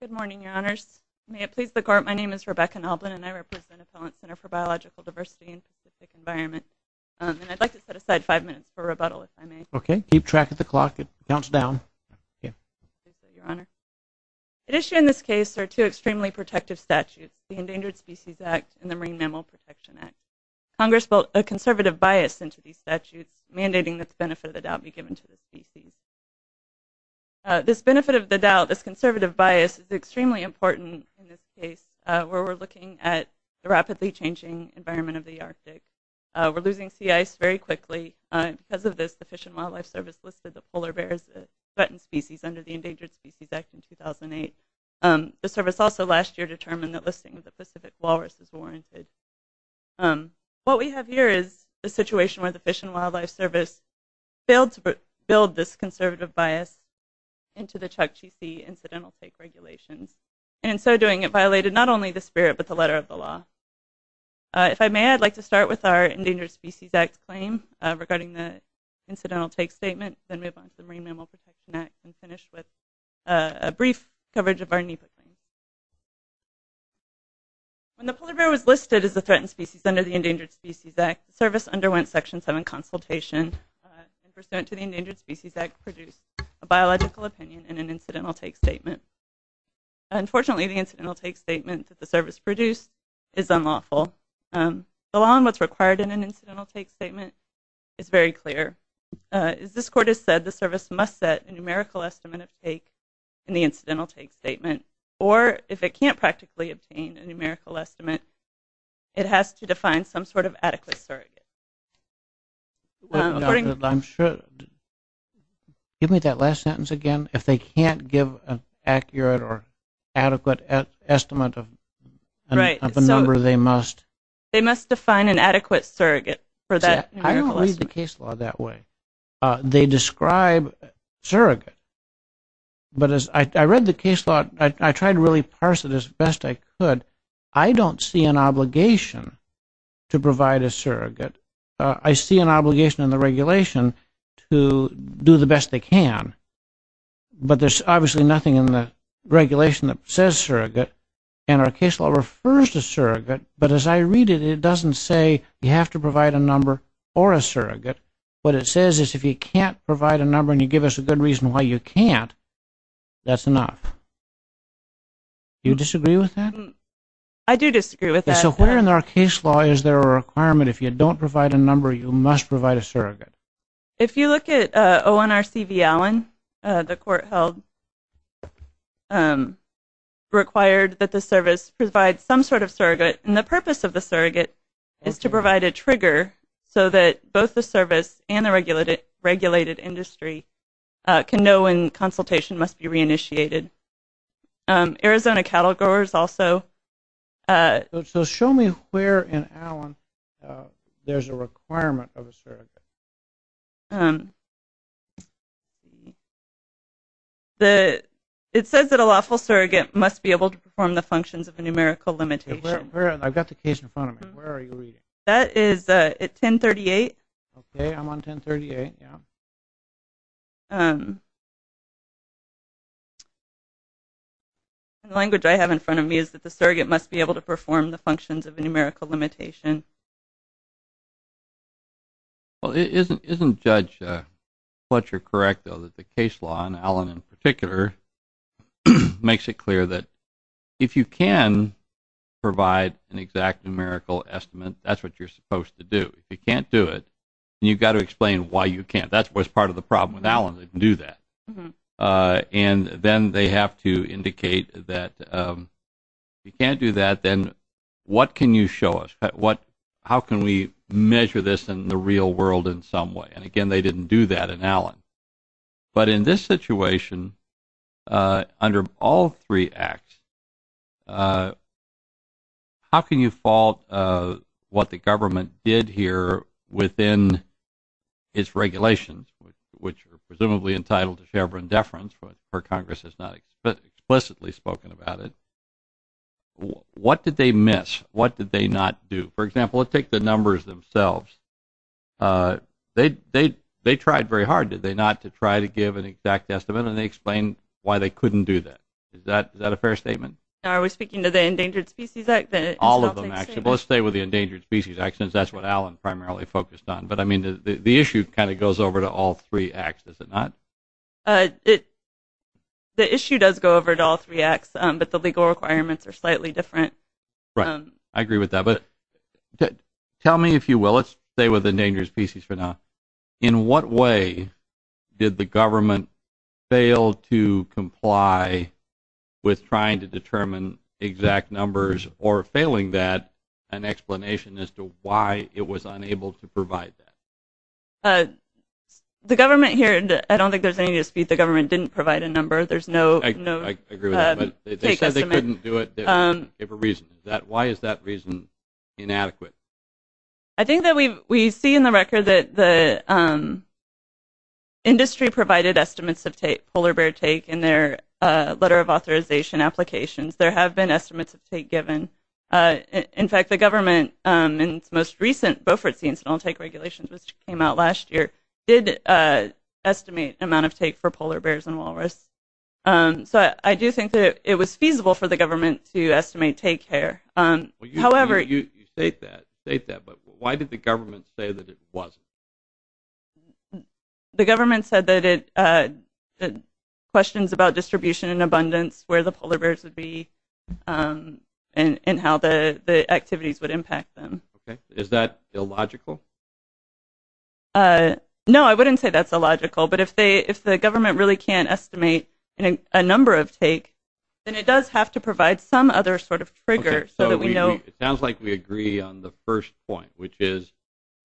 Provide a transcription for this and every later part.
Good morning, Your Honors. May it please the Court, my name is Rebecca Nalban, and I represent Appellant Center for Biological Diversity and Specific Environment. And I'd like to set aside five minutes for rebuttal, if I may. Okay, keep track of the clock. It counts down. Thank you, Your Honor. At issue in this case are two extremely protective statutes, the Endangered Species Act and the Marine Mammal Protection Act. Congress built a conservative bias into these statutes, mandating that the benefit of the doubt be given to the species. This benefit of the doubt, this conservative bias, is extremely important in this case, where we're looking at the rapidly changing environment of the Arctic. We're losing sea ice very quickly. Because of this, the Fish and Wildlife Service listed the polar bears as threatened species under the Endangered Species Act in 2008. The service also last year determined that listing the Pacific walrus is warranted. What we have here is the situation where the Fish and Wildlife Service failed to build this conservative bias into the Chukchi Sea Incidental Take Regulations. And in so doing, it violated not only the spirit, but the letter of the law. If I may, I'd like to start with our Endangered Species Act claim regarding the Incidental Take Statement, then move on to the Marine Mammal Protection Act, and finish with a brief coverage of our NEPA claim. When the polar bear was listed as a threatened species under the Endangered Species Act, the service underwent Section 7 consultation, and pursuant to the Endangered Species Act, produced a biological opinion in an Incidental Take Statement. Unfortunately, the Incidental Take Statement that the service produced is unlawful. The law on what's required in an Incidental Take Statement is very clear. As this Court has said, the service must set a numerical estimate of take in the Incidental Take Statement, or if it can't practically obtain a numerical estimate, it has to define some sort of adequate surrogate. I'm sure. Give me that last sentence again. If they can't give an accurate or adequate estimate of a number, they must? They must define an adequate surrogate for that numerical estimate. I don't read the case law that way. They describe surrogate, but as I read the case law, I tried to really parse it as best I could. I don't see an obligation to provide a surrogate. I see an obligation in the regulation to do the best they can, but there's obviously nothing in the regulation that says surrogate, and our case law refers to surrogate, but as I read it, it doesn't say you have to provide a number or a surrogate. What it says is if you can't provide a number and you give us a good reason why you can't, that's enough. Do you disagree with that? I do disagree with that. So where in our case law is there a requirement if you don't provide a number, you must provide a surrogate? If you look at ONRC v. Allen, the Court held required that the service provide some sort of surrogate, and the purpose of the surrogate is to provide a trigger so that both the service and the regulated industry can know when consultation must be reinitiated. Arizona cattle growers also. So show me where in Allen there's a requirement of a surrogate. It says that a lawful surrogate must be able to perform the functions of a numerical limitation. I've got the case in front of me. Where are you reading? That is at 1038. Okay, I'm on 1038. The language I have in front of me is that the surrogate must be able to perform the functions of a numerical limitation. Well, isn't Judge Fletcher correct, though, that the case law, and Allen in particular, makes it clear that if you can provide an exact numerical estimate, that's what you're supposed to do. If you can't do it, then you've got to explain why you can't. That's part of the problem with Allen, they can do that. And then they have to indicate that if you can't do that, then what can you show us? How can we measure this in the real world in some way? And, again, they didn't do that in Allen. But in this situation, under all three acts, how can you fault what the government did here within its regulations, which are presumably entitled to Chevron deference, but Congress has not explicitly spoken about it. What did they miss? What did they not do? For example, let's take the numbers themselves. They tried very hard, did they not, to try to give an exact estimate, and they explained why they couldn't do that. Is that a fair statement? Are we speaking to the Endangered Species Act? All of them, actually. Let's stay with the Endangered Species Act, since that's what Allen primarily focused on. But, I mean, the issue kind of goes over to all three acts, does it not? The issue does go over to all three acts, but the legal requirements are slightly different. Right. I agree with that. But tell me, if you will, let's stay with the Endangered Species for now. In what way did the government fail to comply with trying to determine exact numbers, or failing that, an explanation as to why it was unable to provide that? The government here, I don't think there's anything to dispute. The government didn't provide a number. I agree with that, but they said they couldn't do it. Why is that reason inadequate? I think that we see in the record that the industry provided estimates of polar bear take in their letter of authorization applications. There have been estimates of take given. In fact, the government, in its most recent Beaufort Scenes and All Take Regulations, which came out last year, did estimate an amount of take for polar bears and walrus. So I do think that it was feasible for the government to estimate take here. You state that, but why did the government say that it wasn't? That's where the polar bears would be and how the activities would impact them. Is that illogical? No, I wouldn't say that's illogical. But if the government really can't estimate a number of take, then it does have to provide some other sort of trigger so that we know. It sounds like we agree on the first point, which is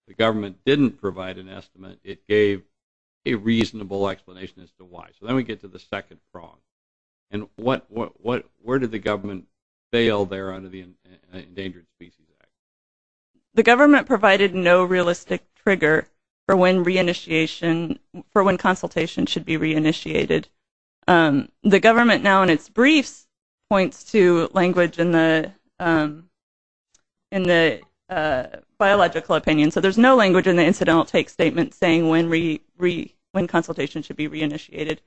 the government didn't provide an estimate. It gave a reasonable explanation as to why. So then we get to the second prong. Where did the government fail there under the Endangered Species Act? The government provided no realistic trigger for when consultation should be reinitiated. The government now, in its briefs, points to language in the biological opinion. So there's no language in the incidental take statement saying when consultation should be reinitiated.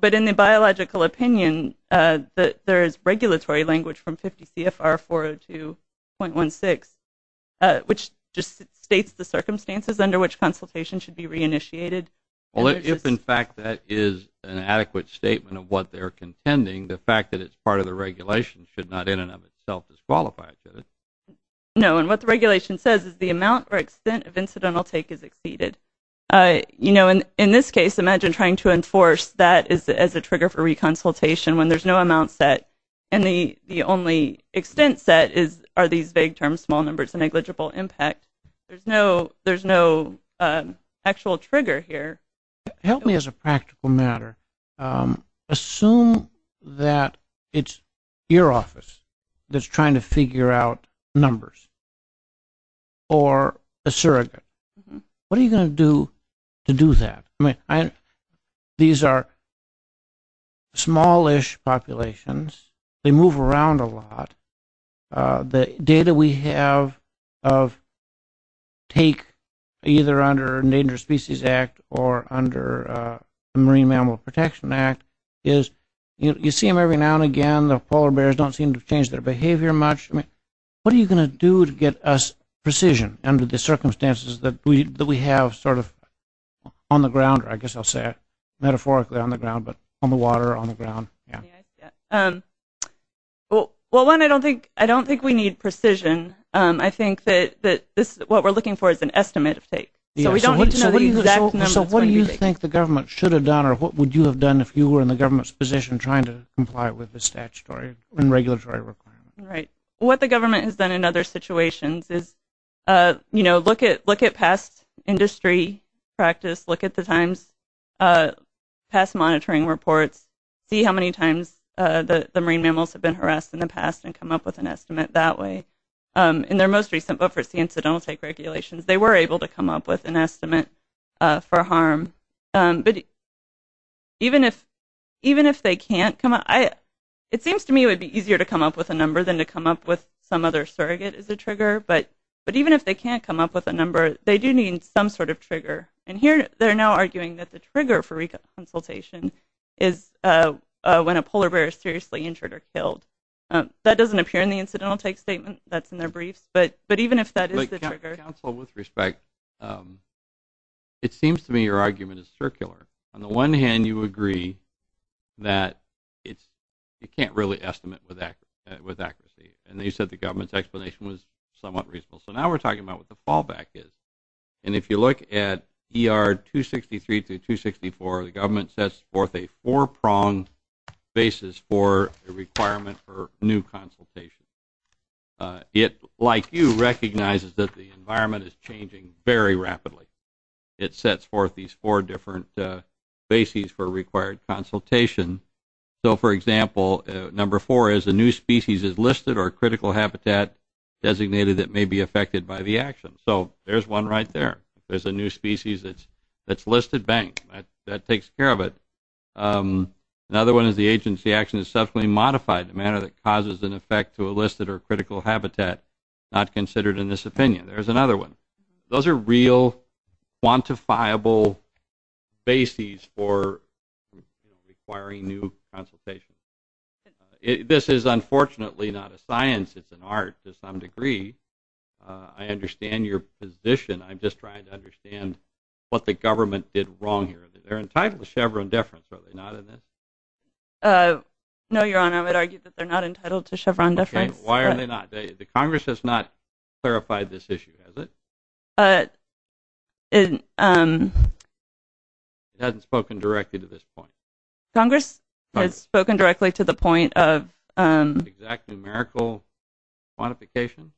But in the biological opinion, there is regulatory language from 50 CFR 402.16, which just states the circumstances under which consultation should be reinitiated. If, in fact, that is an adequate statement of what they're contending, the fact that it's part of the regulation should not in and of itself disqualify it. No, and what the regulation says is the amount or extent of incidental take is exceeded. In this case, imagine trying to enforce that as a trigger for reconsultation when there's no amount set and the only extent set are these vague terms, small numbers, and negligible impact. There's no actual trigger here. Help me as a practical matter. Assume that it's your office that's trying to figure out numbers or a surrogate. What are you going to do to do that? These are smallish populations. They move around a lot. The data we have of take either under the Endangered Species Act or under the Marine Mammal Protection Act is you see them every now and again. The polar bears don't seem to change their behavior much. What are you going to do to get us precision under the circumstances that we have sort of on the ground, or I guess I'll say it metaphorically on the ground, but on the water or on the ground? Well, one, I don't think we need precision. I think that what we're looking for is an estimate of take. So we don't need to know the exact numbers. So what do you think the government should have done or what would you have done if you were in the government's position trying to comply with the statutory and regulatory requirements? Right. What the government has done in other situations is look at past industry practice, look at the Times past monitoring reports, see how many times the marine mammals have been harassed in the past and come up with an estimate that way. In their most recent efforts, the incidental take regulations, they were able to come up with an estimate for harm. But even if they can't come up, it seems to me it would be easier to come up with a number than to come up with some other surrogate as a trigger. But even if they can't come up with a number, they do need some sort of trigger. And here they're now arguing that the trigger for reconsultation is when a polar bear is seriously injured or killed. That doesn't appear in the incidental take statement. That's in their briefs. But even if that is the trigger. Counsel, with respect, it seems to me your argument is circular. On the one hand, you agree that you can't really estimate with accuracy. And you said the government's explanation was somewhat reasonable. So now we're talking about what the fallback is. And if you look at ER 263 to 264, the government sets forth a four-pronged basis for a requirement for new consultation. It, like you, recognizes that the environment is changing very rapidly. It sets forth these four different bases for required consultation. So, for example, number four is a new species is listed or critical habitat designated that may be affected by the action. So there's one right there. There's a new species that's listed, bang, that takes care of it. Another one is the agency action is subsequently modified in a manner that causes an effect to a listed or critical habitat not considered in this opinion. There's another one. Those are real, quantifiable bases for requiring new consultation. This is unfortunately not a science. It's an art to some degree. I understand your position. I'm just trying to understand what the government did wrong here. They're entitled to Chevron deference, are they not? No, Your Honor, I would argue that they're not entitled to Chevron deference. Okay, why are they not? The Congress has not clarified this issue, has it? It hasn't spoken directly to this point. Congress has spoken directly to the point of – Is there an exact numerical quantification?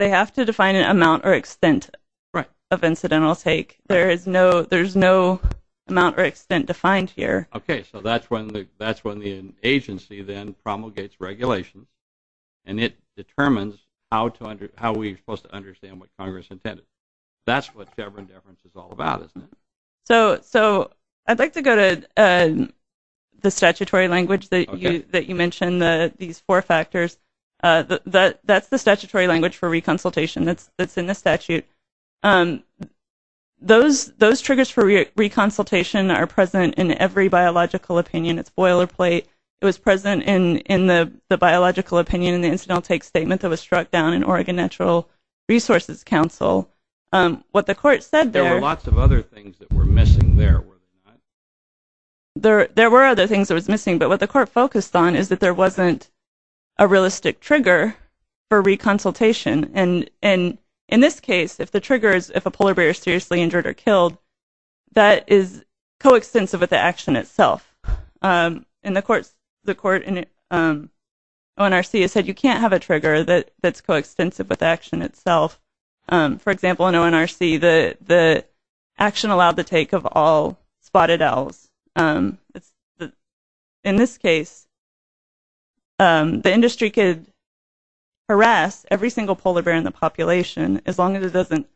They have to define an amount or extent of incidental take. There is no amount or extent defined here. Okay, so that's when the agency then promulgates regulations, and it determines how we're supposed to understand what Congress intended. That's what Chevron deference is all about, isn't it? I'd like to go to the statutory language that you mentioned, these four factors. That's the statutory language for reconsultation that's in the statute. Those triggers for reconsultation are present in every biological opinion. It's boilerplate. It was present in the biological opinion in the incidental take statement that was struck down in Oregon Natural Resources Council. There were lots of other things that were missing there. There were other things that were missing, but what the court focused on is that there wasn't a realistic trigger for reconsultation. In this case, if a polar bear is seriously injured or killed, that is coextensive with the action itself. The court in ONRC has said you can't have a trigger that's coextensive with action itself. For example, in ONRC, the action allowed the take of all spotted owls. In this case, the industry could harass every single polar bear in the population as long as it doesn't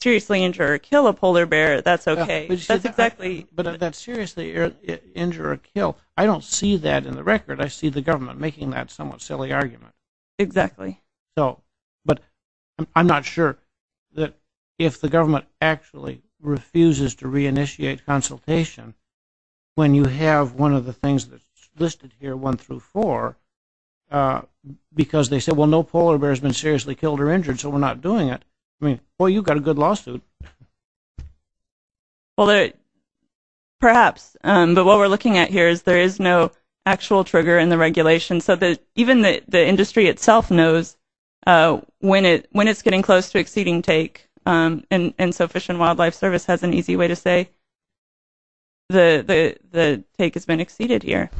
seriously injure or kill a polar bear, that's okay. But that seriously injure or kill, I don't see that in the record. I see the government making that somewhat silly argument. Exactly. But I'm not sure that if the government actually refuses to reinitiate consultation when you have one of the things that's listed here, one through four, because they say, well, no polar bear has been seriously killed or injured, so we're not doing it. I mean, boy, you've got a good lawsuit. Perhaps. But what we're looking at here is there is no actual trigger in the regulation. So even the industry itself knows when it's getting close to exceeding take, and so Fish and Wildlife Service has an easy way to say the take has been exceeded here.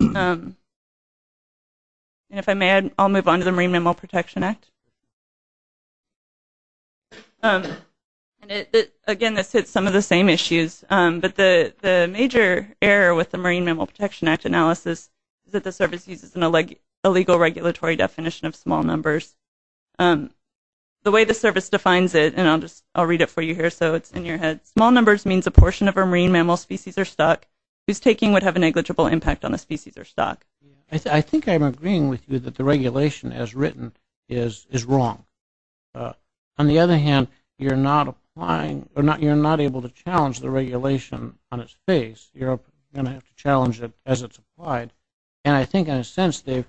If I may, I'll move on to the Marine Mammal Protection Act. Again, this hits some of the same issues, but the major error with the Marine Mammal Protection Act analysis is that the service uses an illegal regulatory definition of small numbers. The way the service defines it, and I'll read it for you here so it's in your head, small numbers means a portion of a marine mammal species or stock whose taking would have a negligible impact on the species or stock. I think I'm agreeing with you that the regulation as written is wrong. On the other hand, you're not able to challenge the regulation on its face. You're going to have to challenge it as it's applied. And I think in a sense they've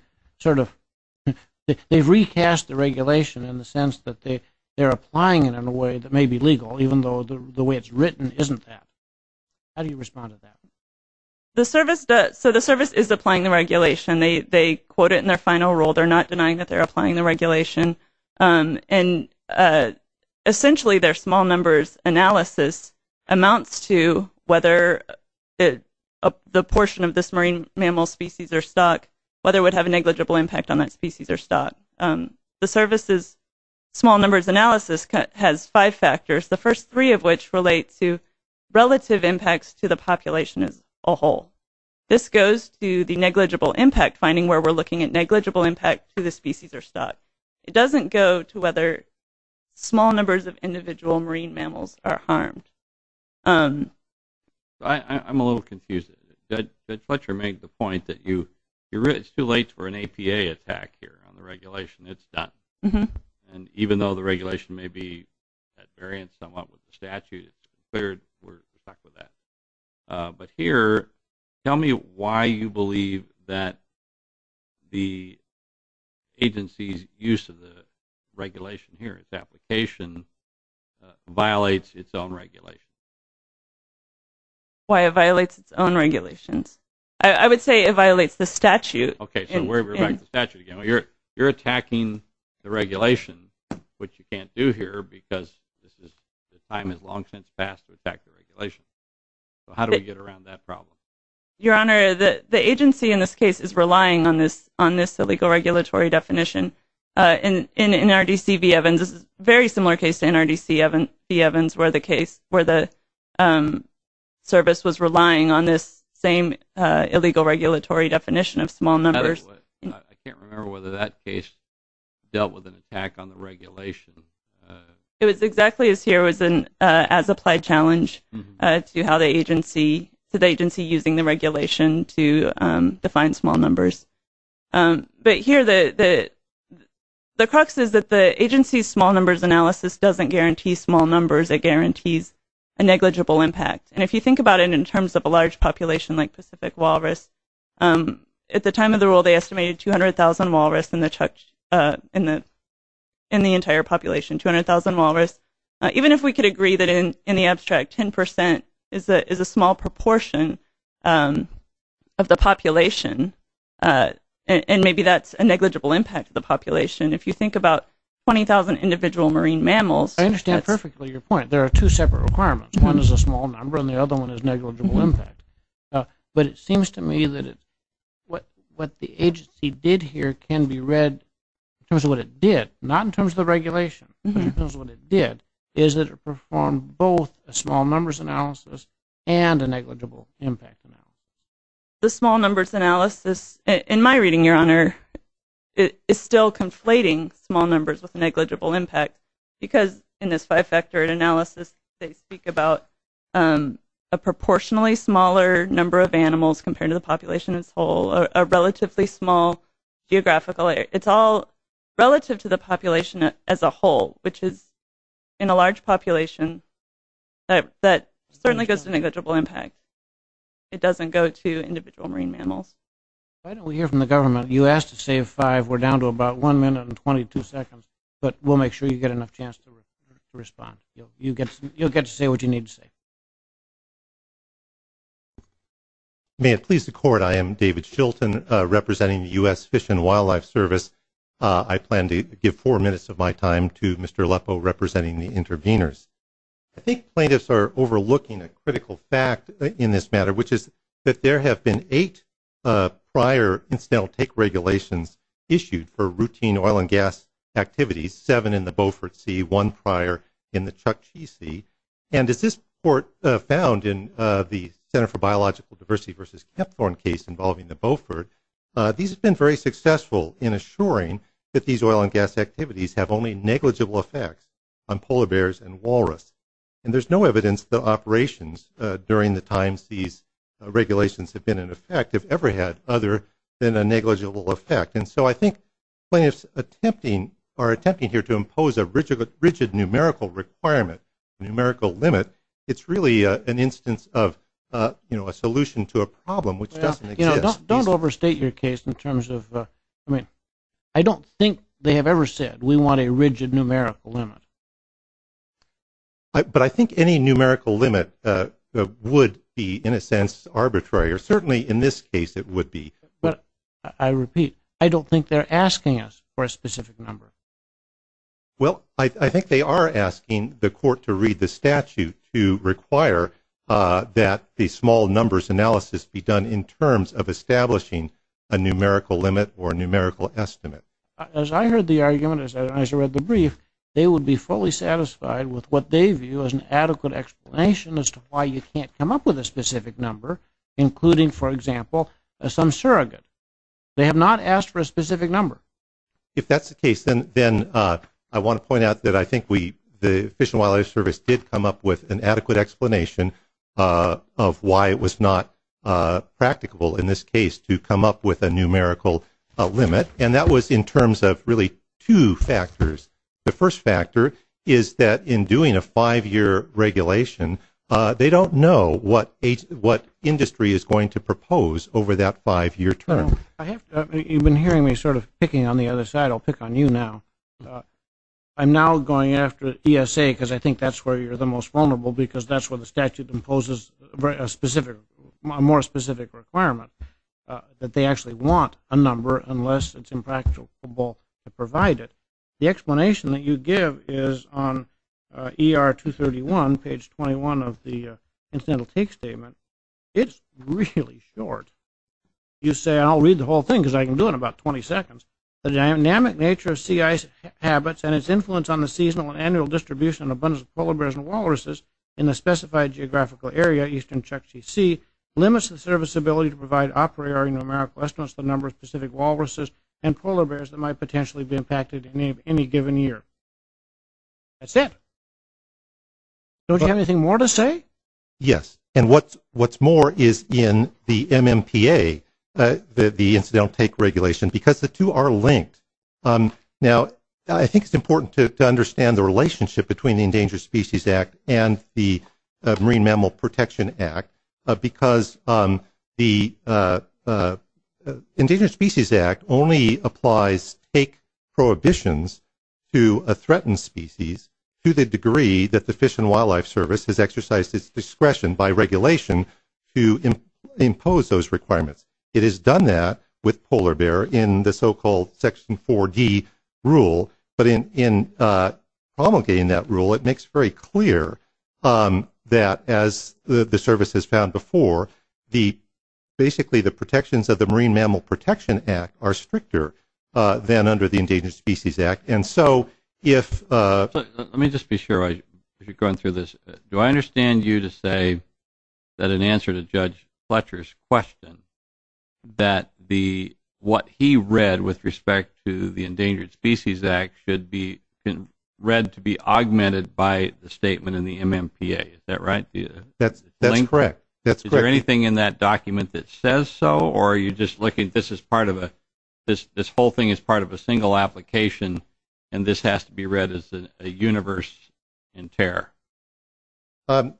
recast the regulation in the sense that they're applying it in a way that may be legal, even though the way it's written isn't that. How do you respond to that? So the service is applying the regulation. They quote it in their final rule. They're not denying that they're applying the regulation. And essentially their small numbers analysis amounts to whether the portion of this marine mammal species or stock, whether it would have a negligible impact on that species or stock. The service's small numbers analysis has five factors, the first three of which relate to relative impacts to the population as a whole. This goes to the negligible impact, finding where we're looking at negligible impact to the species or stock. It doesn't go to whether small numbers of individual marine mammals are harmed. I'm a little confused. Judge Fletcher made the point that it's too late for an APA attack here on the regulation. It's done. And even though the regulation may be at variance somewhat with the statute, it's declared we're stuck with that. But here, tell me why you believe that the agency's use of the regulation here, its application, violates its own regulation. Why it violates its own regulations. I would say it violates the statute. Okay, so we're back to statute again. You're attacking the regulation, which you can't do here because time has long since passed to attack the regulation. How do we get around that problem? Your Honor, the agency in this case is relying on this illegal regulatory definition. In NRDC v. Evans, this is a very similar case to NRDC v. Evans where the service was relying on this same illegal regulatory definition of small numbers. I can't remember whether that case dealt with an attack on the regulation. It was exactly as here. It was an as-applied challenge to the agency using the regulation to define small numbers. But here, the crux is that the agency's small numbers analysis doesn't guarantee small numbers. It guarantees a negligible impact. And if you think about it in terms of a large population like Pacific walrus, at the time of the rule they estimated 200,000 walrus in the entire population, 200,000 walrus. Even if we could agree that in the abstract 10% is a small proportion of the population, and maybe that's a negligible impact to the population, if you think about 20,000 individual marine mammals. I understand perfectly your point. There are two separate requirements. One is a small number and the other one is negligible impact. But it seems to me that what the agency did here can be read in terms of what it did, not in terms of the regulation, but in terms of what it did, is that it performed both a small numbers analysis and a negligible impact analysis. The small numbers analysis, in my reading, Your Honor, is still conflating small numbers with negligible impact because in this five-factor analysis they speak about a proportionally smaller number of animals compared to the population as a whole, a relatively small geographical area. It's all relative to the population as a whole, which is in a large population that certainly has a negligible impact. It doesn't go to individual marine mammals. Why don't we hear from the government? You asked to save five. We're down to about one minute and 22 seconds, but we'll make sure you get enough chance to respond. You'll get to say what you need to say. May it please the Court, I am David Shilton representing the U.S. Fish and Wildlife Service. I plan to give four minutes of my time to Mr. Aleppo representing the interveners. I think plaintiffs are overlooking a critical fact in this matter, which is that there have been eight prior incidental take regulations issued for routine oil and gas activities, seven in the Beaufort Sea, one prior in the Chukchi Sea. And as this Court found in the Center for Biological Diversity versus Kepthorne case involving the Beaufort, these have been very successful in assuring that these oil and gas activities have only negligible effects on polar bears and walrus. And there's no evidence the operations during the times these regulations have been in effect have ever had other than a negligible effect. And so I think plaintiffs are attempting here to impose a rigid numerical requirement, numerical limit. It's really an instance of a solution to a problem which doesn't exist. Don't overstate your case in terms of, I mean, I don't think they have ever said we want a rigid numerical limit. But I think any numerical limit would be, in a sense, arbitrary, or certainly in this case it would be. But, I repeat, I don't think they're asking us for a specific number. Well, I think they are asking the Court to read the statute to require that the small numbers analysis be done in terms of establishing a numerical limit or a numerical estimate. As I heard the argument, as I read the brief, they would be fully satisfied with what they view as an adequate explanation as to why you can't come up with a specific number, including, for example, some surrogate. They have not asked for a specific number. If that's the case, then I want to point out that I think the Fish and Wildlife Service did come up with an adequate explanation of why it was not practical in this case to come up with a numerical limit. And that was in terms of really two factors. The first factor is that in doing a five-year regulation, they don't know what industry is going to propose over that five-year term. You've been hearing me sort of picking on the other side. I'll pick on you now. I'm now going after ESA because I think that's where you're the most vulnerable because that's where the statute imposes a more specific requirement, that they actually want a number unless it's impractical to provide it. The explanation that you give is on ER 231, page 21 of the Incidental Take Statement. It's really short. You say, and I'll read the whole thing because I can do it in about 20 seconds. The dynamic nature of sea ice habits and its influence on the seasonal and annual distribution and abundance of polar bears and walruses in a specified geographical area, eastern Chukchi Sea, limits the service's ability to provide operatory numerical estimates of the number of Pacific walruses and polar bears that might potentially be impacted in any given year. That's it. Don't you have anything more to say? Yes, and what's more is in the MMPA, the Incidental Take Regulation, because the two are linked. Now, I think it's important to understand the relationship between the Endangered Species Act and the Marine Mammal Protection Act because the Endangered Species Act only applies take prohibitions to a threatened species to the degree that the Fish and Wildlife Service has exercised its discretion by regulation to impose those requirements. It has done that with polar bear in the so-called Section 4D rule, but in promulgating that rule, it makes very clear that, as the Service has found before, basically the protections of the Marine Mammal Protection Act are stricter than under the Endangered Species Act. Let me just be sure as you're going through this. Do I understand you to say that in answer to Judge Fletcher's question, that what he read with respect to the Endangered Species Act should be read to be augmented by the statement in the MMPA? Is that right? That's correct. Is there anything in that document that says so, or are you just looking at this as part of a single application, and this has to be read as a universe in tear? I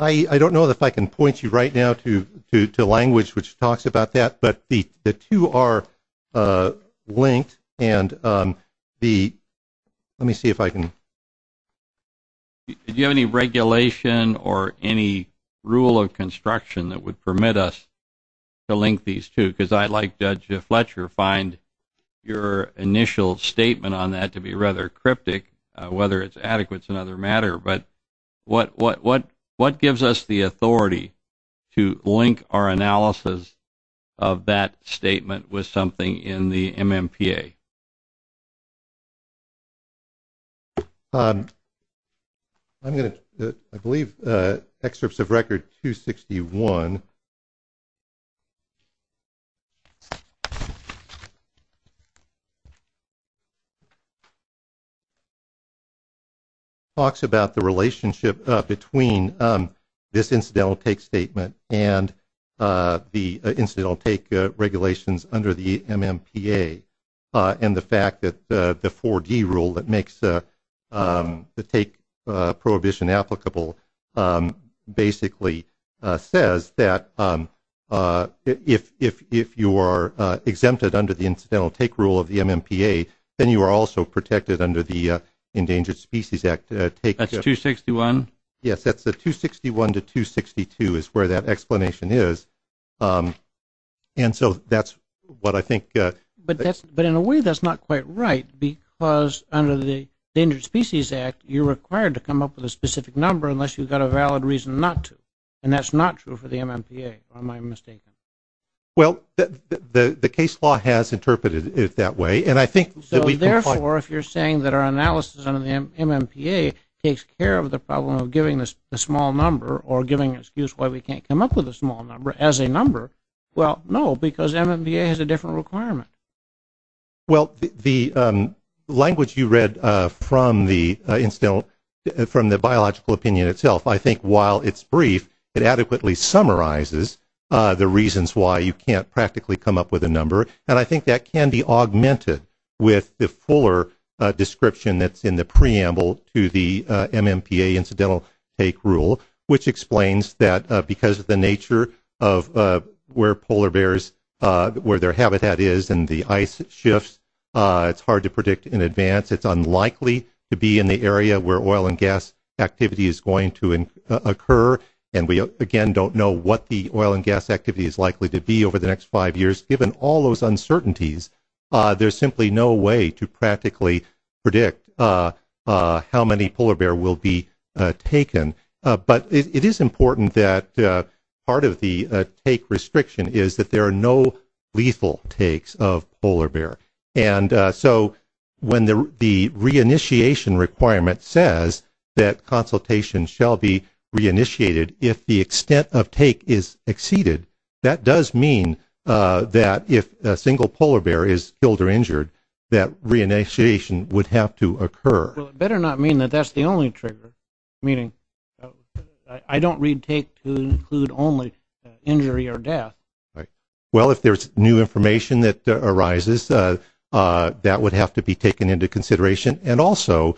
don't know if I can point you right now to language which talks about that, but the two are linked. Let me see if I can. Do you have any regulation or any rule of construction that would permit us to link these two? Because I, like Judge Fletcher, find your initial statement on that to be rather cryptic, whether it's adequate is another matter, but what gives us the authority to link our analysis of that statement with something in the MMPA? I believe Excerpts of Record 261 talks about the relationship between this incidental take statement and the incidental take regulations under the MMPA. And the fact that the 4D rule that makes the take prohibition applicable basically says that if you are exempted under the incidental take rule of the MMPA, then you are also protected under the Endangered Species Act. That's 261? Yes, that's the 261 to 262 is where that explanation is, and so that's what I think. But in a way, that's not quite right because under the Endangered Species Act, you're required to come up with a specific number unless you've got a valid reason not to, and that's not true for the MMPA, am I mistaken? Well, the case law has interpreted it that way, and I think that we can find... So therefore, if you're saying that our analysis under the MMPA takes care of the problem of giving a small number or giving an excuse why we can't come up with a small number as a number, well, no, because MMPA has a different requirement. Well, the language you read from the biological opinion itself, I think while it's brief, it adequately summarizes the reasons why you can't practically come up with a number, and I think that can be augmented with the fuller description that's in the preamble to the MMPA incidental take rule, which explains that because of the nature of where polar bears, where their habitat is and the ice shifts, it's hard to predict in advance. It's unlikely to be in the area where oil and gas activity is going to occur, and we again don't know what the oil and gas activity is likely to be over the next five years. Given all those uncertainties, there's simply no way to practically predict how many polar bear will be taken. But it is important that part of the take restriction is that there are no lethal takes of polar bear. And so when the re-initiation requirement says that consultation shall be re-initiated if the extent of take is exceeded, that does mean that if a single polar bear is killed or injured, that re-initiation would have to occur. Well, it better not mean that that's the only trigger, meaning I don't read take to include only injury or death. Right. Well, if there's new information that arises, that would have to be taken into consideration. And also,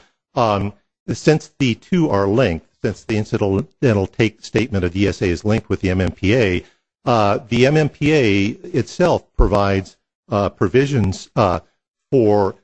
since the two are linked, since the incidental take statement of the ESA is linked with the MMPA, the MMPA itself provides provisions for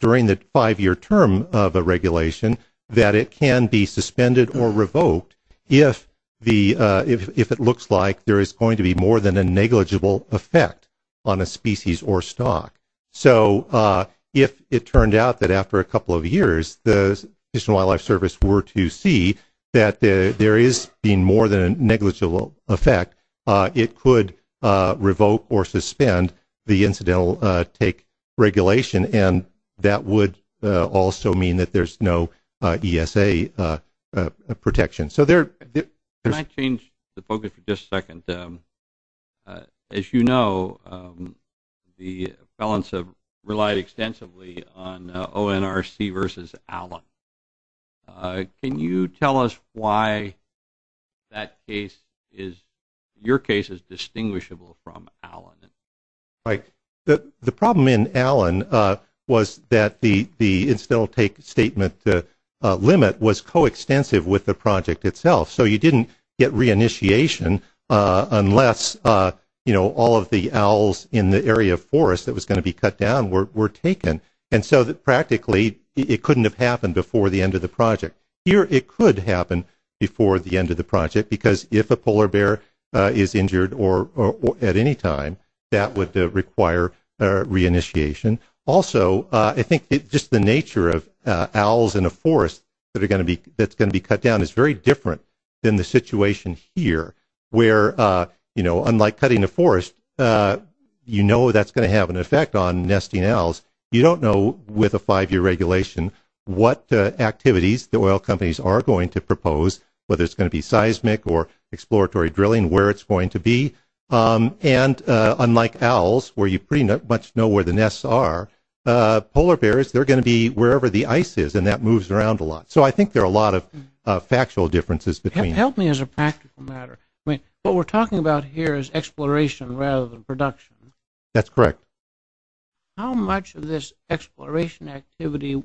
during the five-year term of a regulation that it can be suspended or revoked if it looks like there is going to be more than a negligible effect on a species or stock. So if it turned out that after a couple of years the National Wildlife Service were to see that there is being more than a negligible effect, it could revoke or suspend the incidental take regulation, and that would also mean that there's no ESA protection. Can I change the focus for just a second? As you know, the felons have relied extensively on ONRC versus Allen. Can you tell us why your case is distinguishable from Allen? Right. The problem in Allen was that the incidental take statement limit was coextensive with the project itself, so you didn't get re-initiation unless all of the owls in the area of forest that was going to be cut down were taken. And so practically it couldn't have happened before the end of the project. Here it could happen before the end of the project because if a polar bear is injured at any time, that would require re-initiation. Also, I think just the nature of owls in a forest that's going to be cut down is very different than the situation here, where unlike cutting a forest, you know that's going to have an effect on nesting owls. You don't know with a five-year regulation what activities the oil companies are going to propose, whether it's going to be seismic or exploratory drilling, where it's going to be. And unlike owls, where you pretty much know where the nests are, polar bears, they're going to be wherever the ice is and that moves around a lot. So I think there are a lot of factual differences between them. Help me as a practical matter. What we're talking about here is exploration rather than production. That's correct. How much of this exploration activity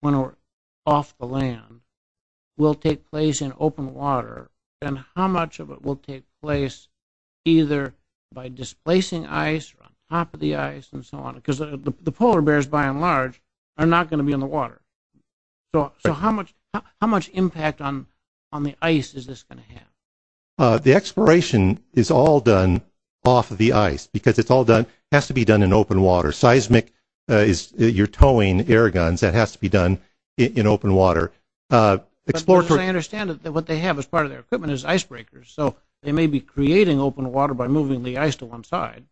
when we're off the land will take place in open water and how much of it will take place either by displacing ice or on top of the ice and so on? Because the polar bears, by and large, are not going to be in the water. So how much impact on the ice is this going to have? The exploration is all done off of the ice because it has to be done in open water. Seismic is your towing air guns. That has to be done in open water. I understand that what they have as part of their equipment is icebreakers. So they may be creating open water by moving the ice to one side.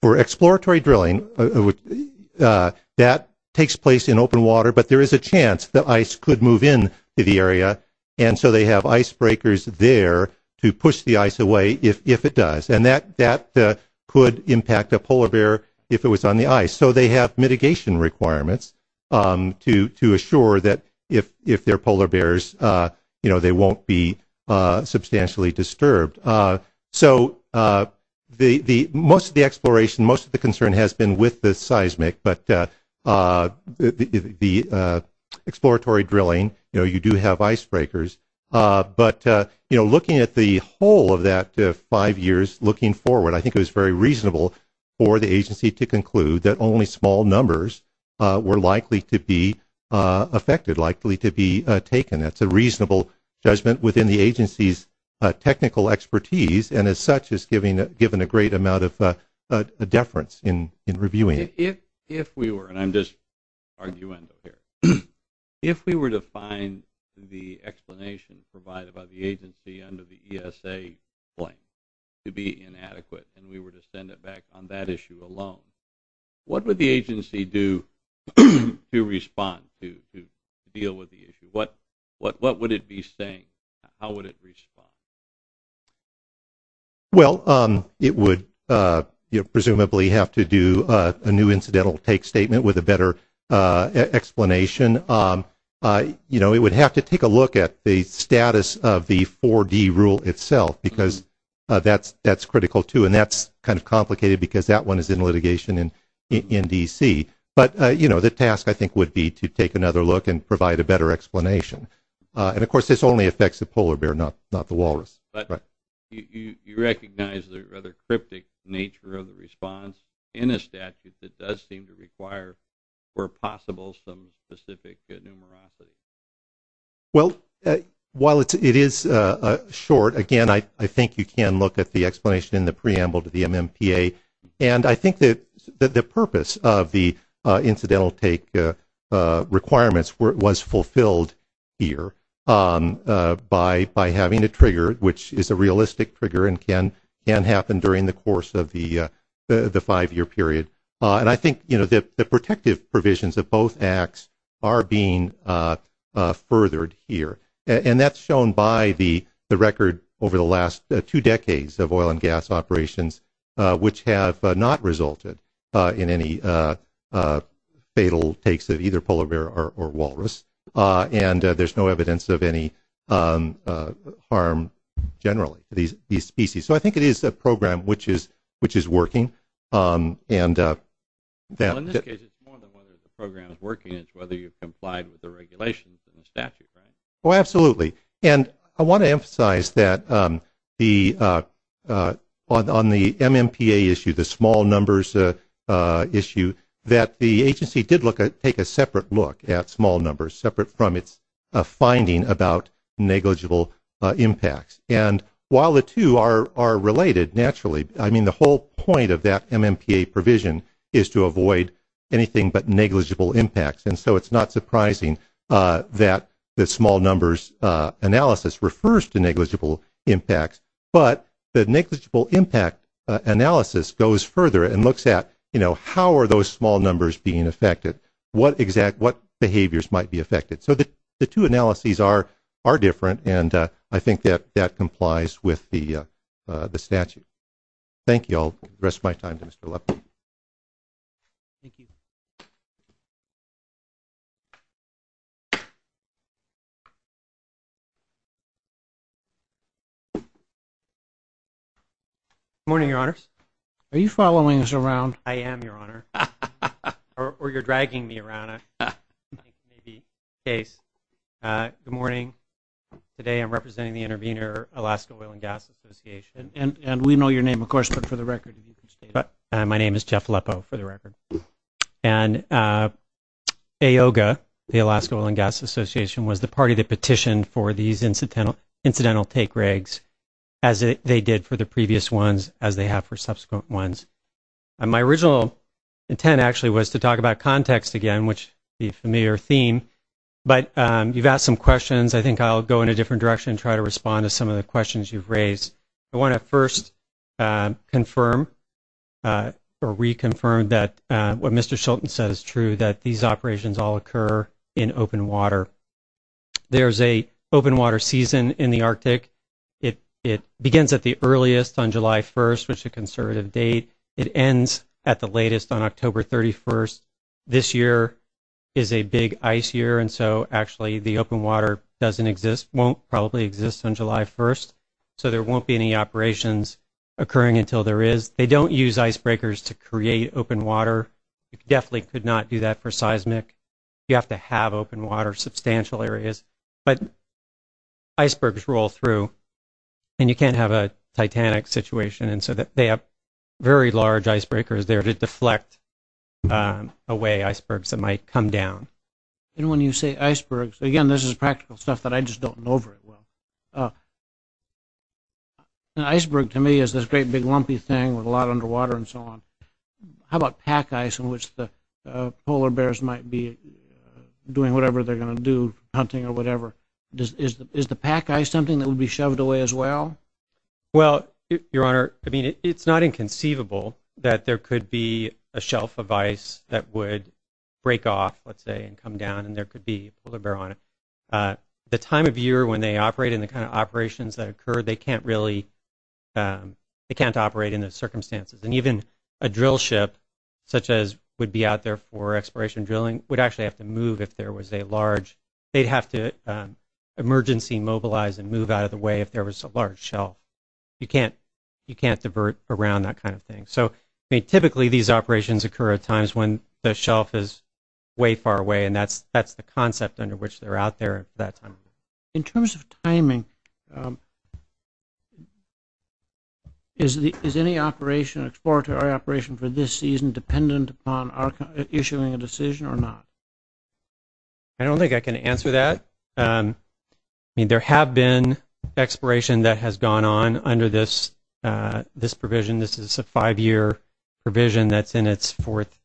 For exploratory drilling, that takes place in open water, but there is a chance that ice could move into the area, and so they have icebreakers there to push the ice away if it does. And that could impact a polar bear if it was on the ice. So they have mitigation requirements to assure that if there are polar bears, they won't be substantially disturbed. So most of the exploration, most of the concern has been with the seismic, but the exploratory drilling, you do have icebreakers. But looking at the whole of that five years looking forward, I think it was very reasonable for the agency to conclude that only small numbers were likely to be affected, likely to be taken. That's a reasonable judgment within the agency's technical expertise, and as such has given a great amount of deference in reviewing it. If we were, and I'm just arguing here, if we were to find the explanation provided by the agency under the ESA blank to be inadequate and we were to send it back on that issue alone, what would the agency do to respond to deal with the issue? What would it be saying? How would it respond? Well, it would presumably have to do a new incidental take statement with a better explanation. It would have to take a look at the status of the 4D rule itself because that's critical, too, and that's kind of complicated because that one is in litigation in D.C. But the task, I think, would be to take another look and provide a better explanation. And, of course, this only affects the polar bear, not the walrus. But you recognize the rather cryptic nature of the response in a statute that does seem to require, where possible, some specific numerosity. Well, while it is short, again, I think you can look at the explanation in the preamble to the MMPA, and I think that the purpose of the incidental take requirements was fulfilled here by having a trigger, which is a realistic trigger and can happen during the course of the five-year period. And I think the protective provisions of both acts are being furthered here, and that's shown by the record over the last two decades of oil and gas operations, which have not resulted in any fatal takes of either polar bear or walrus, and there's no evidence of any harm generally to these species. So I think it is a program which is working. Well, in this case, it's more than whether the program is working. It's whether you've complied with the regulations in the statute, right? Oh, absolutely. And I want to emphasize that on the MMPA issue, the small numbers issue, that the agency did take a separate look at small numbers, separate from its finding about negligible impacts. And while the two are related, naturally, I mean, the whole point of that MMPA provision is to avoid anything but negligible impacts, and so it's not surprising that the small numbers analysis refers to negligible impacts. But the negligible impact analysis goes further and looks at, you know, how are those small numbers being affected? What behaviors might be affected? So the two analyses are different, and I think that that complies with the statute. Thank you. I'll rest my time to Mr. Lepman. Thank you. Good morning, Your Honors. Are you following us around? I am, Your Honor. Or you're dragging me around, I think may be the case. Good morning. Today I'm representing the intervener, Alaska Oil and Gas Association. And we know your name, of course, but for the record. My name is Jeff Lepo, for the record. And AOGA, the Alaska Oil and Gas Association, was the party that petitioned for these incidental take regs, as they did for the previous ones, as they have for subsequent ones. My original intent, actually, was to talk about context again, which is a familiar theme. But you've asked some questions. I think I'll go in a different direction and try to respond to some of the questions you've raised. I want to first confirm or reconfirm that what Mr. Schulten said is true, that these operations all occur in open water. There's a open water season in the Arctic. It begins at the earliest on July 1st, which is a conservative date. It ends at the latest on October 31st. This year is a big ice year, and so actually the open water doesn't exist, won't probably exist on July 1st. So there won't be any operations occurring until there is. They don't use icebreakers to create open water. You definitely could not do that for seismic. You have to have open water, substantial areas. But icebergs roll through, and you can't have a titanic situation. And so they have very large icebreakers there to deflect away icebergs that might come down. And when you say icebergs, again, this is practical stuff that I just don't know very well. An iceberg to me is this great big lumpy thing with a lot of underwater and so on. How about pack ice in which the polar bears might be doing whatever they're going to do, hunting or whatever? Is the pack ice something that would be shoved away as well? Well, Your Honor, I mean it's not inconceivable that there could be a shelf of ice that would break off, let's say, and come down, and there could be a polar bear on it. The time of year when they operate and the kind of operations that occur, they can't really operate in those circumstances. And even a drill ship such as would be out there for exploration drilling would actually have to move if there was a large. They'd have to emergency mobilize and move out of the way if there was a large shelf. You can't divert around that kind of thing. So typically these operations occur at times when the shelf is way far away, and that's the concept under which they're out there at that time. In terms of timing, is any operation, exploratory operation for this season dependent upon issuing a decision or not? I don't think I can answer that. I mean there have been exploration that has gone on under this provision. This is a five-year provision that's in its fourth.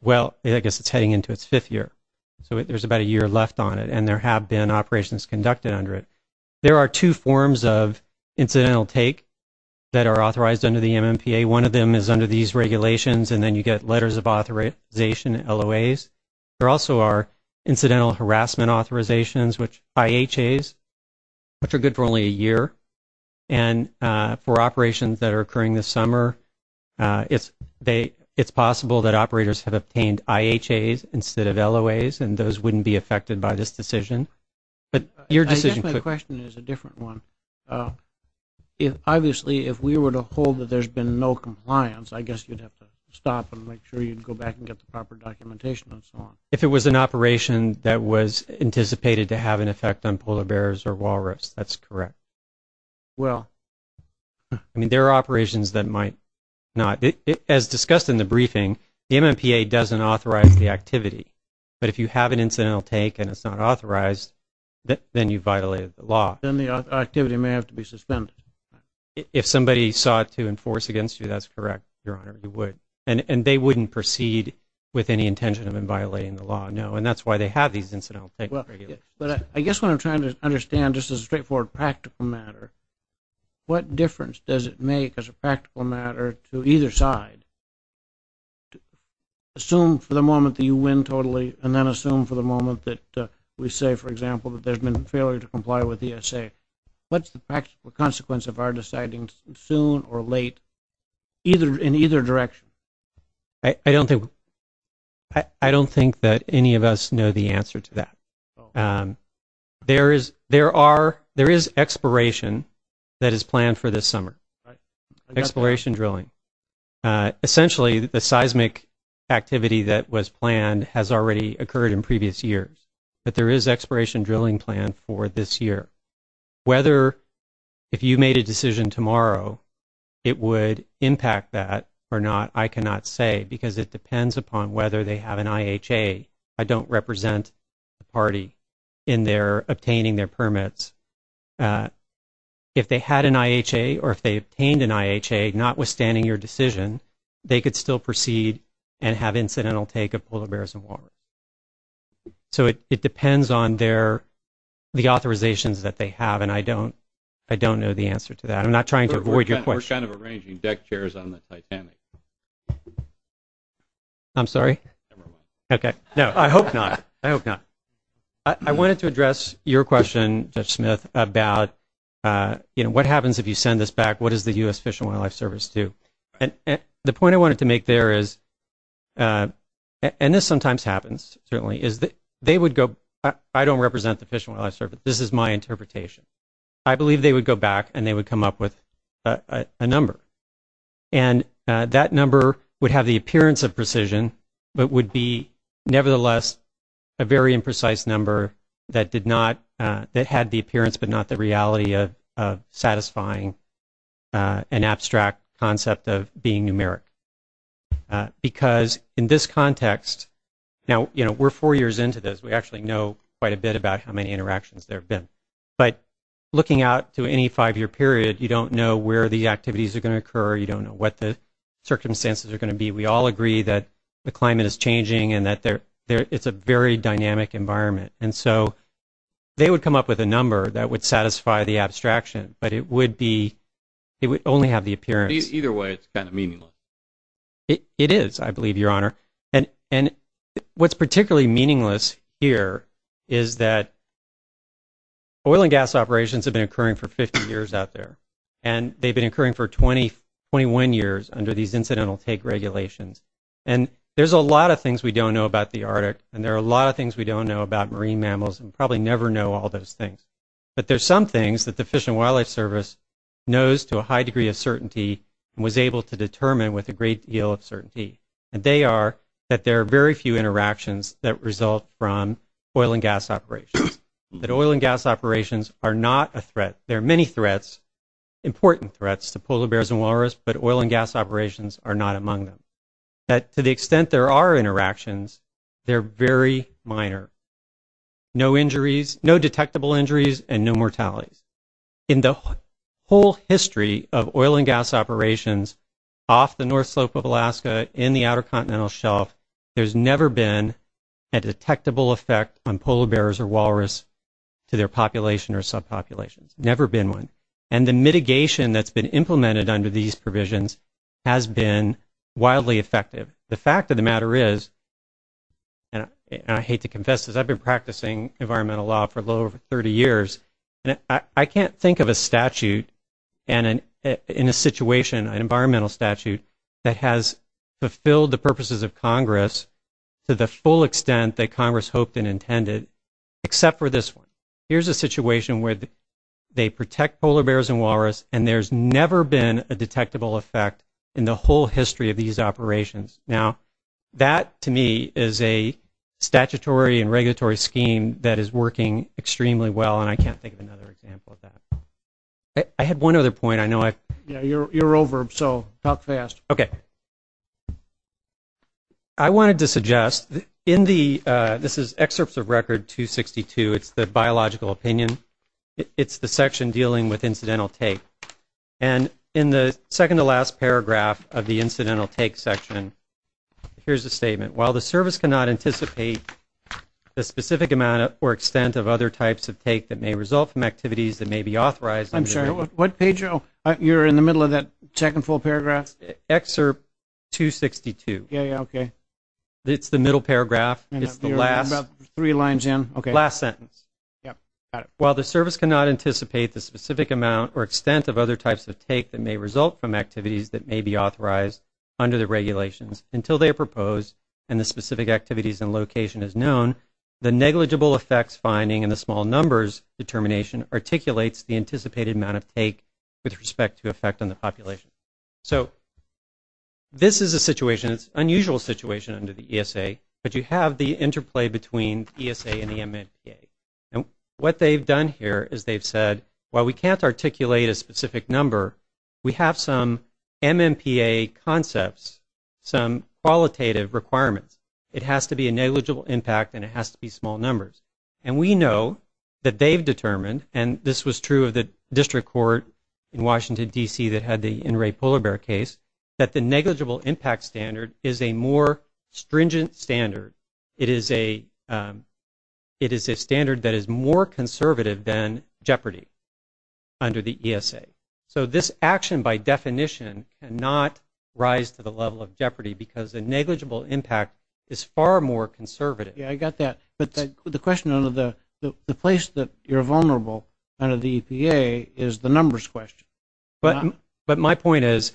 Well, I guess it's heading into its fifth year, so there's about a year left on it, and there have been operations conducted under it. There are two forms of incidental take that are authorized under the MMPA. One of them is under these regulations, and then you get letters of authorization, LOAs. There also are incidental harassment authorizations, IHAs, which are good for only a year. And for operations that are occurring this summer, it's possible that operators have obtained IHAs instead of LOAs, and those wouldn't be affected by this decision. I guess my question is a different one. Obviously, if we were to hold that there's been no compliance, I guess you'd have to stop and make sure you'd go back and get the proper documentation and so on. If it was an operation that was anticipated to have an effect on polar bears or walrus, that's correct. Well. I mean there are operations that might not. As discussed in the briefing, the MMPA doesn't authorize the activity. But if you have an incidental take and it's not authorized, then you've violated the law. Then the activity may have to be suspended. If somebody sought to enforce against you, that's correct, Your Honor, you would. And they wouldn't proceed with any intention of violating the law, no, and that's why they have these incidental take and regulations. But I guess what I'm trying to understand, just as a straightforward practical matter, what difference does it make as a practical matter to either side? Assume for the moment that you win totally and then assume for the moment that we say, for example, that there's been a failure to comply with ESA. What's the practical consequence of our deciding soon or late in either direction? I don't think that any of us know the answer to that. There is exploration that is planned for this summer, exploration drilling. Essentially, the seismic activity that was planned has already occurred in previous years. But there is exploration drilling planned for this year. Whether if you made a decision tomorrow, it would impact that or not, I cannot say, because it depends upon whether they have an IHA. I don't represent the party in their obtaining their permits. If they had an IHA or if they obtained an IHA, notwithstanding your decision, they could still proceed and have incidental take of polar bears and walrus. So it depends on the authorizations that they have, and I don't know the answer to that. I'm not trying to avoid your question. We're kind of arranging deck chairs on the Titanic. I'm sorry? Never mind. Okay. No, I hope not. I hope not. I wanted to address your question, Judge Smith, about what happens if you send this back? What does the U.S. Fish and Wildlife Service do? And the point I wanted to make there is, and this sometimes happens, certainly, is that they would go, I don't represent the Fish and Wildlife Service. This is my interpretation. I believe they would go back and they would come up with a number. And that number would have the appearance of precision but would be, nevertheless, a very imprecise number that had the appearance but not the reality of satisfying an abstract concept of being numeric. Because in this context, now, you know, we're four years into this. We actually know quite a bit about how many interactions there have been. But looking out to any five-year period, you don't know where the activities are going to occur. You don't know what the circumstances are going to be. We all agree that the climate is changing and that it's a very dynamic environment. And so they would come up with a number that would satisfy the abstraction. But it would only have the appearance. Either way, it's kind of meaningless. It is, I believe, Your Honor. And what's particularly meaningless here is that oil and gas operations have been occurring for 50 years out there. And they've been occurring for 21 years under these incidental take regulations. And there's a lot of things we don't know about the Arctic. And there are a lot of things we don't know about marine mammals and probably never know all those things. But there's some things that the Fish and Wildlife Service knows to a high degree of certainty and was able to determine with a great deal of certainty. And they are that there are very few interactions that result from oil and gas operations. That oil and gas operations are not a threat. There are many threats, important threats to polar bears and walrus, but oil and gas operations are not among them. That to the extent there are interactions, they're very minor. No injuries, no detectable injuries, and no mortality. In the whole history of oil and gas operations off the North Slope of Alaska in the Outer Continental Shelf, there's never been a detectable effect on polar bears or walrus to their population or subpopulations. Never been one. And the mitigation that's been implemented under these provisions has been wildly effective. The fact of the matter is, and I hate to confess this, I've been practicing environmental law for a little over 30 years. I can't think of a statute in a situation, an environmental statute, that has fulfilled the purposes of Congress to the full extent that Congress hoped and intended, except for this one. Here's a situation where they protect polar bears and walrus, and there's never been a detectable effect in the whole history of these operations. Now, that to me is a statutory and regulatory scheme that is working extremely well, and I can't think of another example of that. I had one other point. You're over, so talk fast. Okay. I wanted to suggest, this is Excerpts of Record 262. It's the biological opinion. It's the section dealing with incidental take. And in the second to last paragraph of the incidental take section, here's a statement. While the service cannot anticipate the specific amount or extent of other types of take that may result from activities that may be authorized. I'm sorry, what page are you in the middle of that second full paragraph? Excerpt 262. Yeah, yeah, okay. It's the middle paragraph. It's the last. Three lines in. Okay. Last sentence. Yep, got it. While the service cannot anticipate the specific amount or extent of other types of take that may result from activities that may be authorized under the regulations until they are proposed and the specific activities and location is known, the negligible effects finding in the small numbers determination articulates the anticipated amount of take with respect to effect on the population. So this is a situation, it's an unusual situation under the ESA, but you have the interplay between ESA and the MMPA. And what they've done here is they've said, well, we can't articulate a specific number. We have some MMPA concepts, some qualitative requirements. It has to be a negligible impact and it has to be small numbers. And we know that they've determined, and this was true of the district court in Washington, D.C., that had the In re Polar Bear case, that the negligible impact standard is a more stringent standard. It is a standard that is more conservative than jeopardy under the ESA. So this action by definition cannot rise to the level of jeopardy because the negligible impact is far more conservative. Yeah, I got that. But the question under the place that you're vulnerable under the EPA is the numbers question. But my point is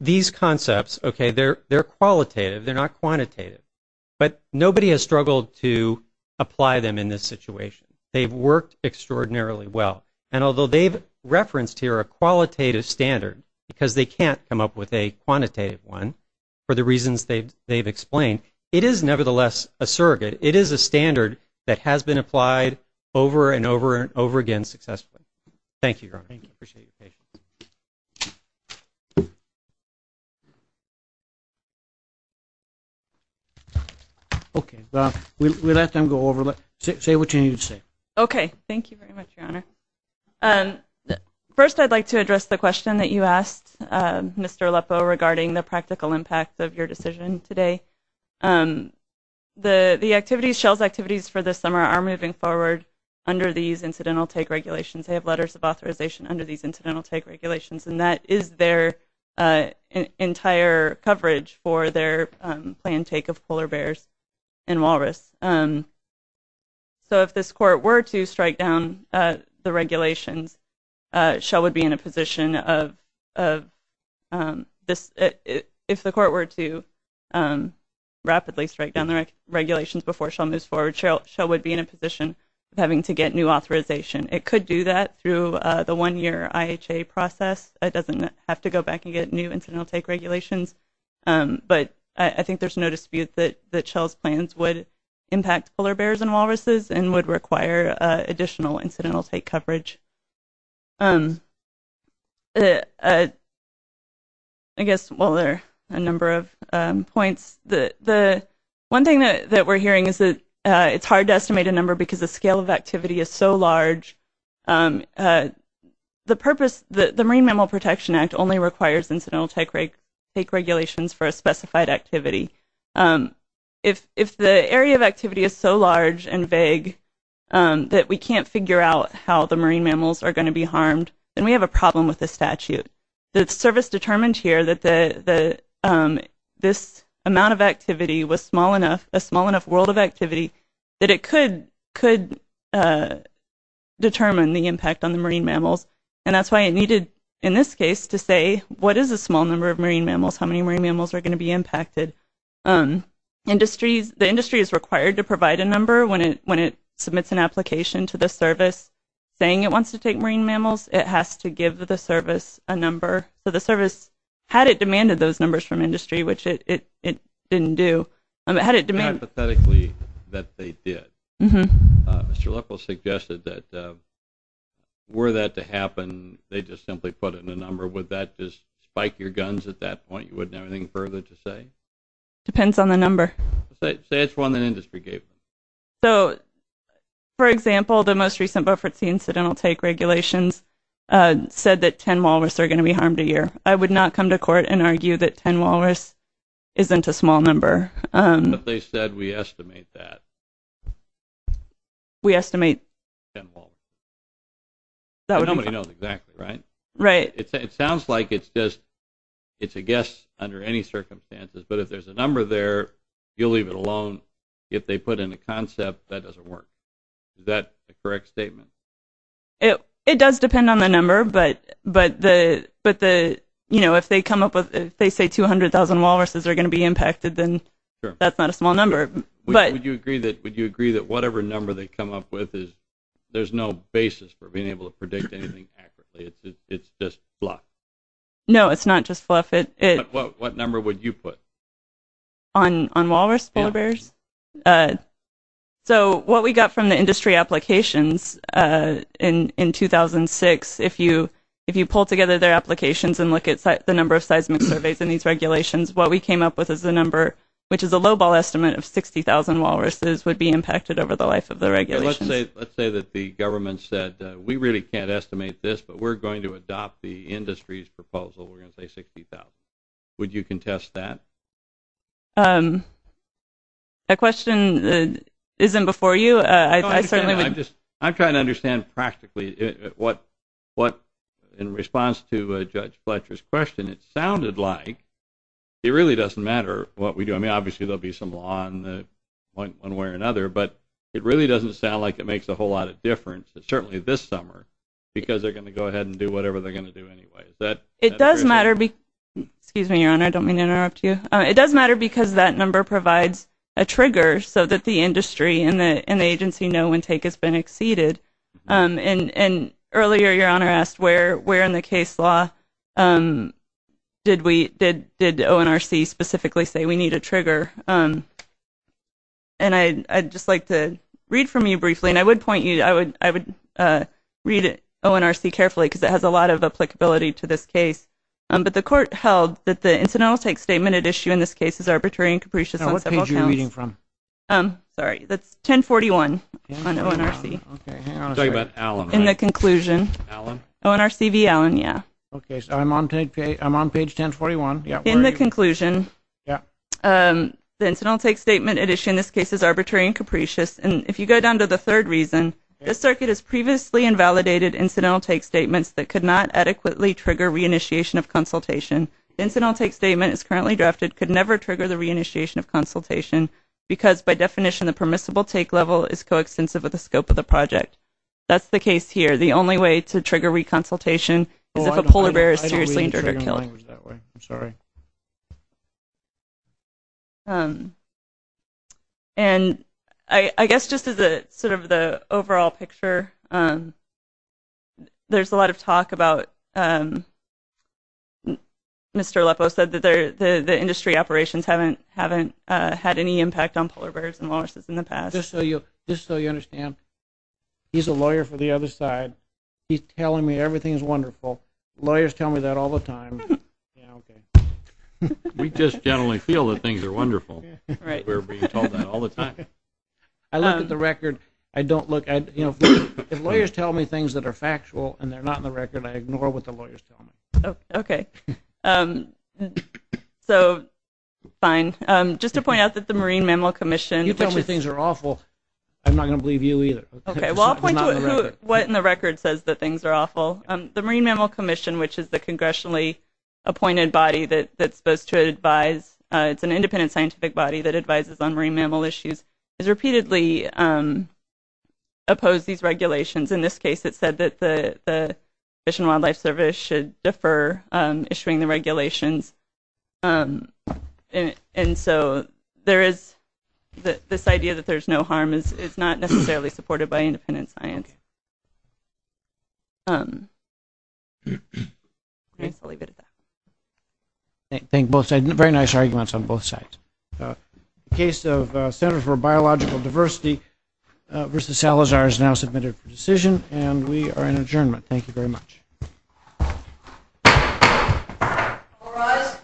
these concepts, okay, they're qualitative. They're not quantitative. But nobody has struggled to apply them in this situation. They've worked extraordinarily well. And although they've referenced here a qualitative standard because they can't come up with a quantitative one for the reasons they've explained, it is nevertheless a surrogate. It is a standard that has been applied over and over and over again successfully. Thank you, Your Honor. Thank you. Appreciate your patience. Okay. We'll let them go over. Say what you need to say. Thank you very much, Your Honor. First, I'd like to address the question that you asked, Mr. Aleppo, regarding the practical impact of your decision today. The activities, SHELS activities for this summer are moving forward under these incidental take regulations. They have letters of authorization under these incidental take regulations. And that is their entire coverage for their planned take of polar bears and walrus. So if this court were to strike down the regulations, SHEL would be in a position of this. If the court were to rapidly strike down the regulations before SHEL moves forward, SHEL would be in a position of having to get new authorization. It could do that through the one-year IHA process. It doesn't have to go back and get new incidental take regulations. But I think there's no dispute that SHEL's plans would impact polar bears and walruses and would require additional incidental take coverage. I guess, well, there are a number of points. One thing that we're hearing is that it's hard to estimate a number because the scale of activity is so large. The purpose, the Marine Mammal Protection Act only requires incidental take regulations for a specified activity. If the area of activity is so large and vague that we can't figure out how the marine mammals are going to be harmed, then we have a problem with the statute. The service determined here that this amount of activity was small enough, a small enough world of activity, that it could determine the impact on the marine mammals. And that's why it needed, in this case, to say what is a small number of marine mammals, how many marine mammals are going to be impacted. The industry is required to provide a number when it submits an application to the service. Saying it wants to take marine mammals, it has to give the service a number. So the service, had it demanded those numbers from industry, which it didn't do, had it demanded... Hypothetically, that they did. Mr. Leffel suggested that were that to happen, they'd just simply put in a number. Would that just spike your guns at that point? You wouldn't have anything further to say? Depends on the number. Say it's one that industry gave. So, for example, the most recent Buford Sea Incidental Take regulations said that 10 walrus are going to be harmed a year. I would not come to court and argue that 10 walrus isn't a small number. But they said we estimate that. We estimate 10 walrus. Nobody knows exactly, right? Right. It sounds like it's a guess under any circumstances. But if there's a number there, you'll leave it alone. If they put in a concept, that doesn't work. Is that a correct statement? It does depend on the number. But if they say 200,000 walruses are going to be impacted, then that's not a small number. Would you agree that whatever number they come up with, there's no basis for being able to predict anything accurately? It's just fluff. No, it's not just fluff. What number would you put? On walrus polar bears? So what we got from the industry applications in 2006, if you pull together their applications and look at the number of seismic surveys in these regulations, what we came up with is the number, which is a lowball estimate of 60,000 walruses, would be impacted over the life of the regulations. So let's say that the government said, we really can't estimate this, but we're going to adopt the industry's proposal, we're going to say 60,000. Would you contest that? That question isn't before you. I'm trying to understand practically what, in response to Judge Fletcher's question, it sounded like it really doesn't matter what we do. I mean, obviously there will be some law on one way or another, but it really doesn't sound like it makes a whole lot of difference, certainly this summer, because they're going to go ahead and do whatever they're going to do anyway. It does matter because that number provides a trigger so that the industry and the agency know when take has been exceeded. And earlier Your Honor asked where in the case law did ONRC specifically say we need a trigger. And I'd just like to read from you briefly, and I would read ONRC carefully because it has a lot of applicability to this case. But the court held that the incidental take statement at issue in this case is arbitrary and capricious on several counts. Now what page are you reading from? Sorry, that's 1041 on ONRC. I'm talking about Allen. In the conclusion. Allen? ONRC v. Allen, yeah. Okay, so I'm on page 1041. In the conclusion, the incidental take statement at issue in this case is arbitrary and capricious. And if you go down to the third reason, this circuit has previously invalidated incidental take statements that could not adequately trigger reinitiation of consultation. The incidental take statement as currently drafted could never trigger the reinitiation of consultation because, by definition, the permissible take level is coextensive with the scope of the project. That's the case here. The only way to trigger reconsultation is if a polar bear is seriously injured or killed. I'm sorry. And I guess just as sort of the overall picture, there's a lot of talk about Mr. Leppo said that the industry operations haven't had any impact on polar bears and walruses in the past. Just so you understand, he's a lawyer for the other side. He's telling me everything is wonderful. Lawyers tell me that all the time. We just generally feel that things are wonderful. Right. We're being told that all the time. I look at the record. I don't look at, you know, if lawyers tell me things that are factual and they're not in the record, I ignore what the lawyers tell me. Okay. So, fine. Just to point out that the Marine Mammal Commission, which is... You tell me things are awful, I'm not going to believe you either. Okay. Well, I'll point to what in the record says that things are awful. The Marine Mammal Commission, which is the congressionally appointed body that's supposed to advise... It's an independent scientific body that advises on marine mammal issues, has repeatedly opposed these regulations. In this case, it said that the Fish and Wildlife Service should defer issuing the regulations. And so, there is this idea that there's no harm is not necessarily supported by independent science. I'll leave it at that. Thank you both. Very nice arguments on both sides. The case of Center for Biological Diversity versus Salazar is now submitted for decision, and we are in adjournment. Thank you very much. All rise.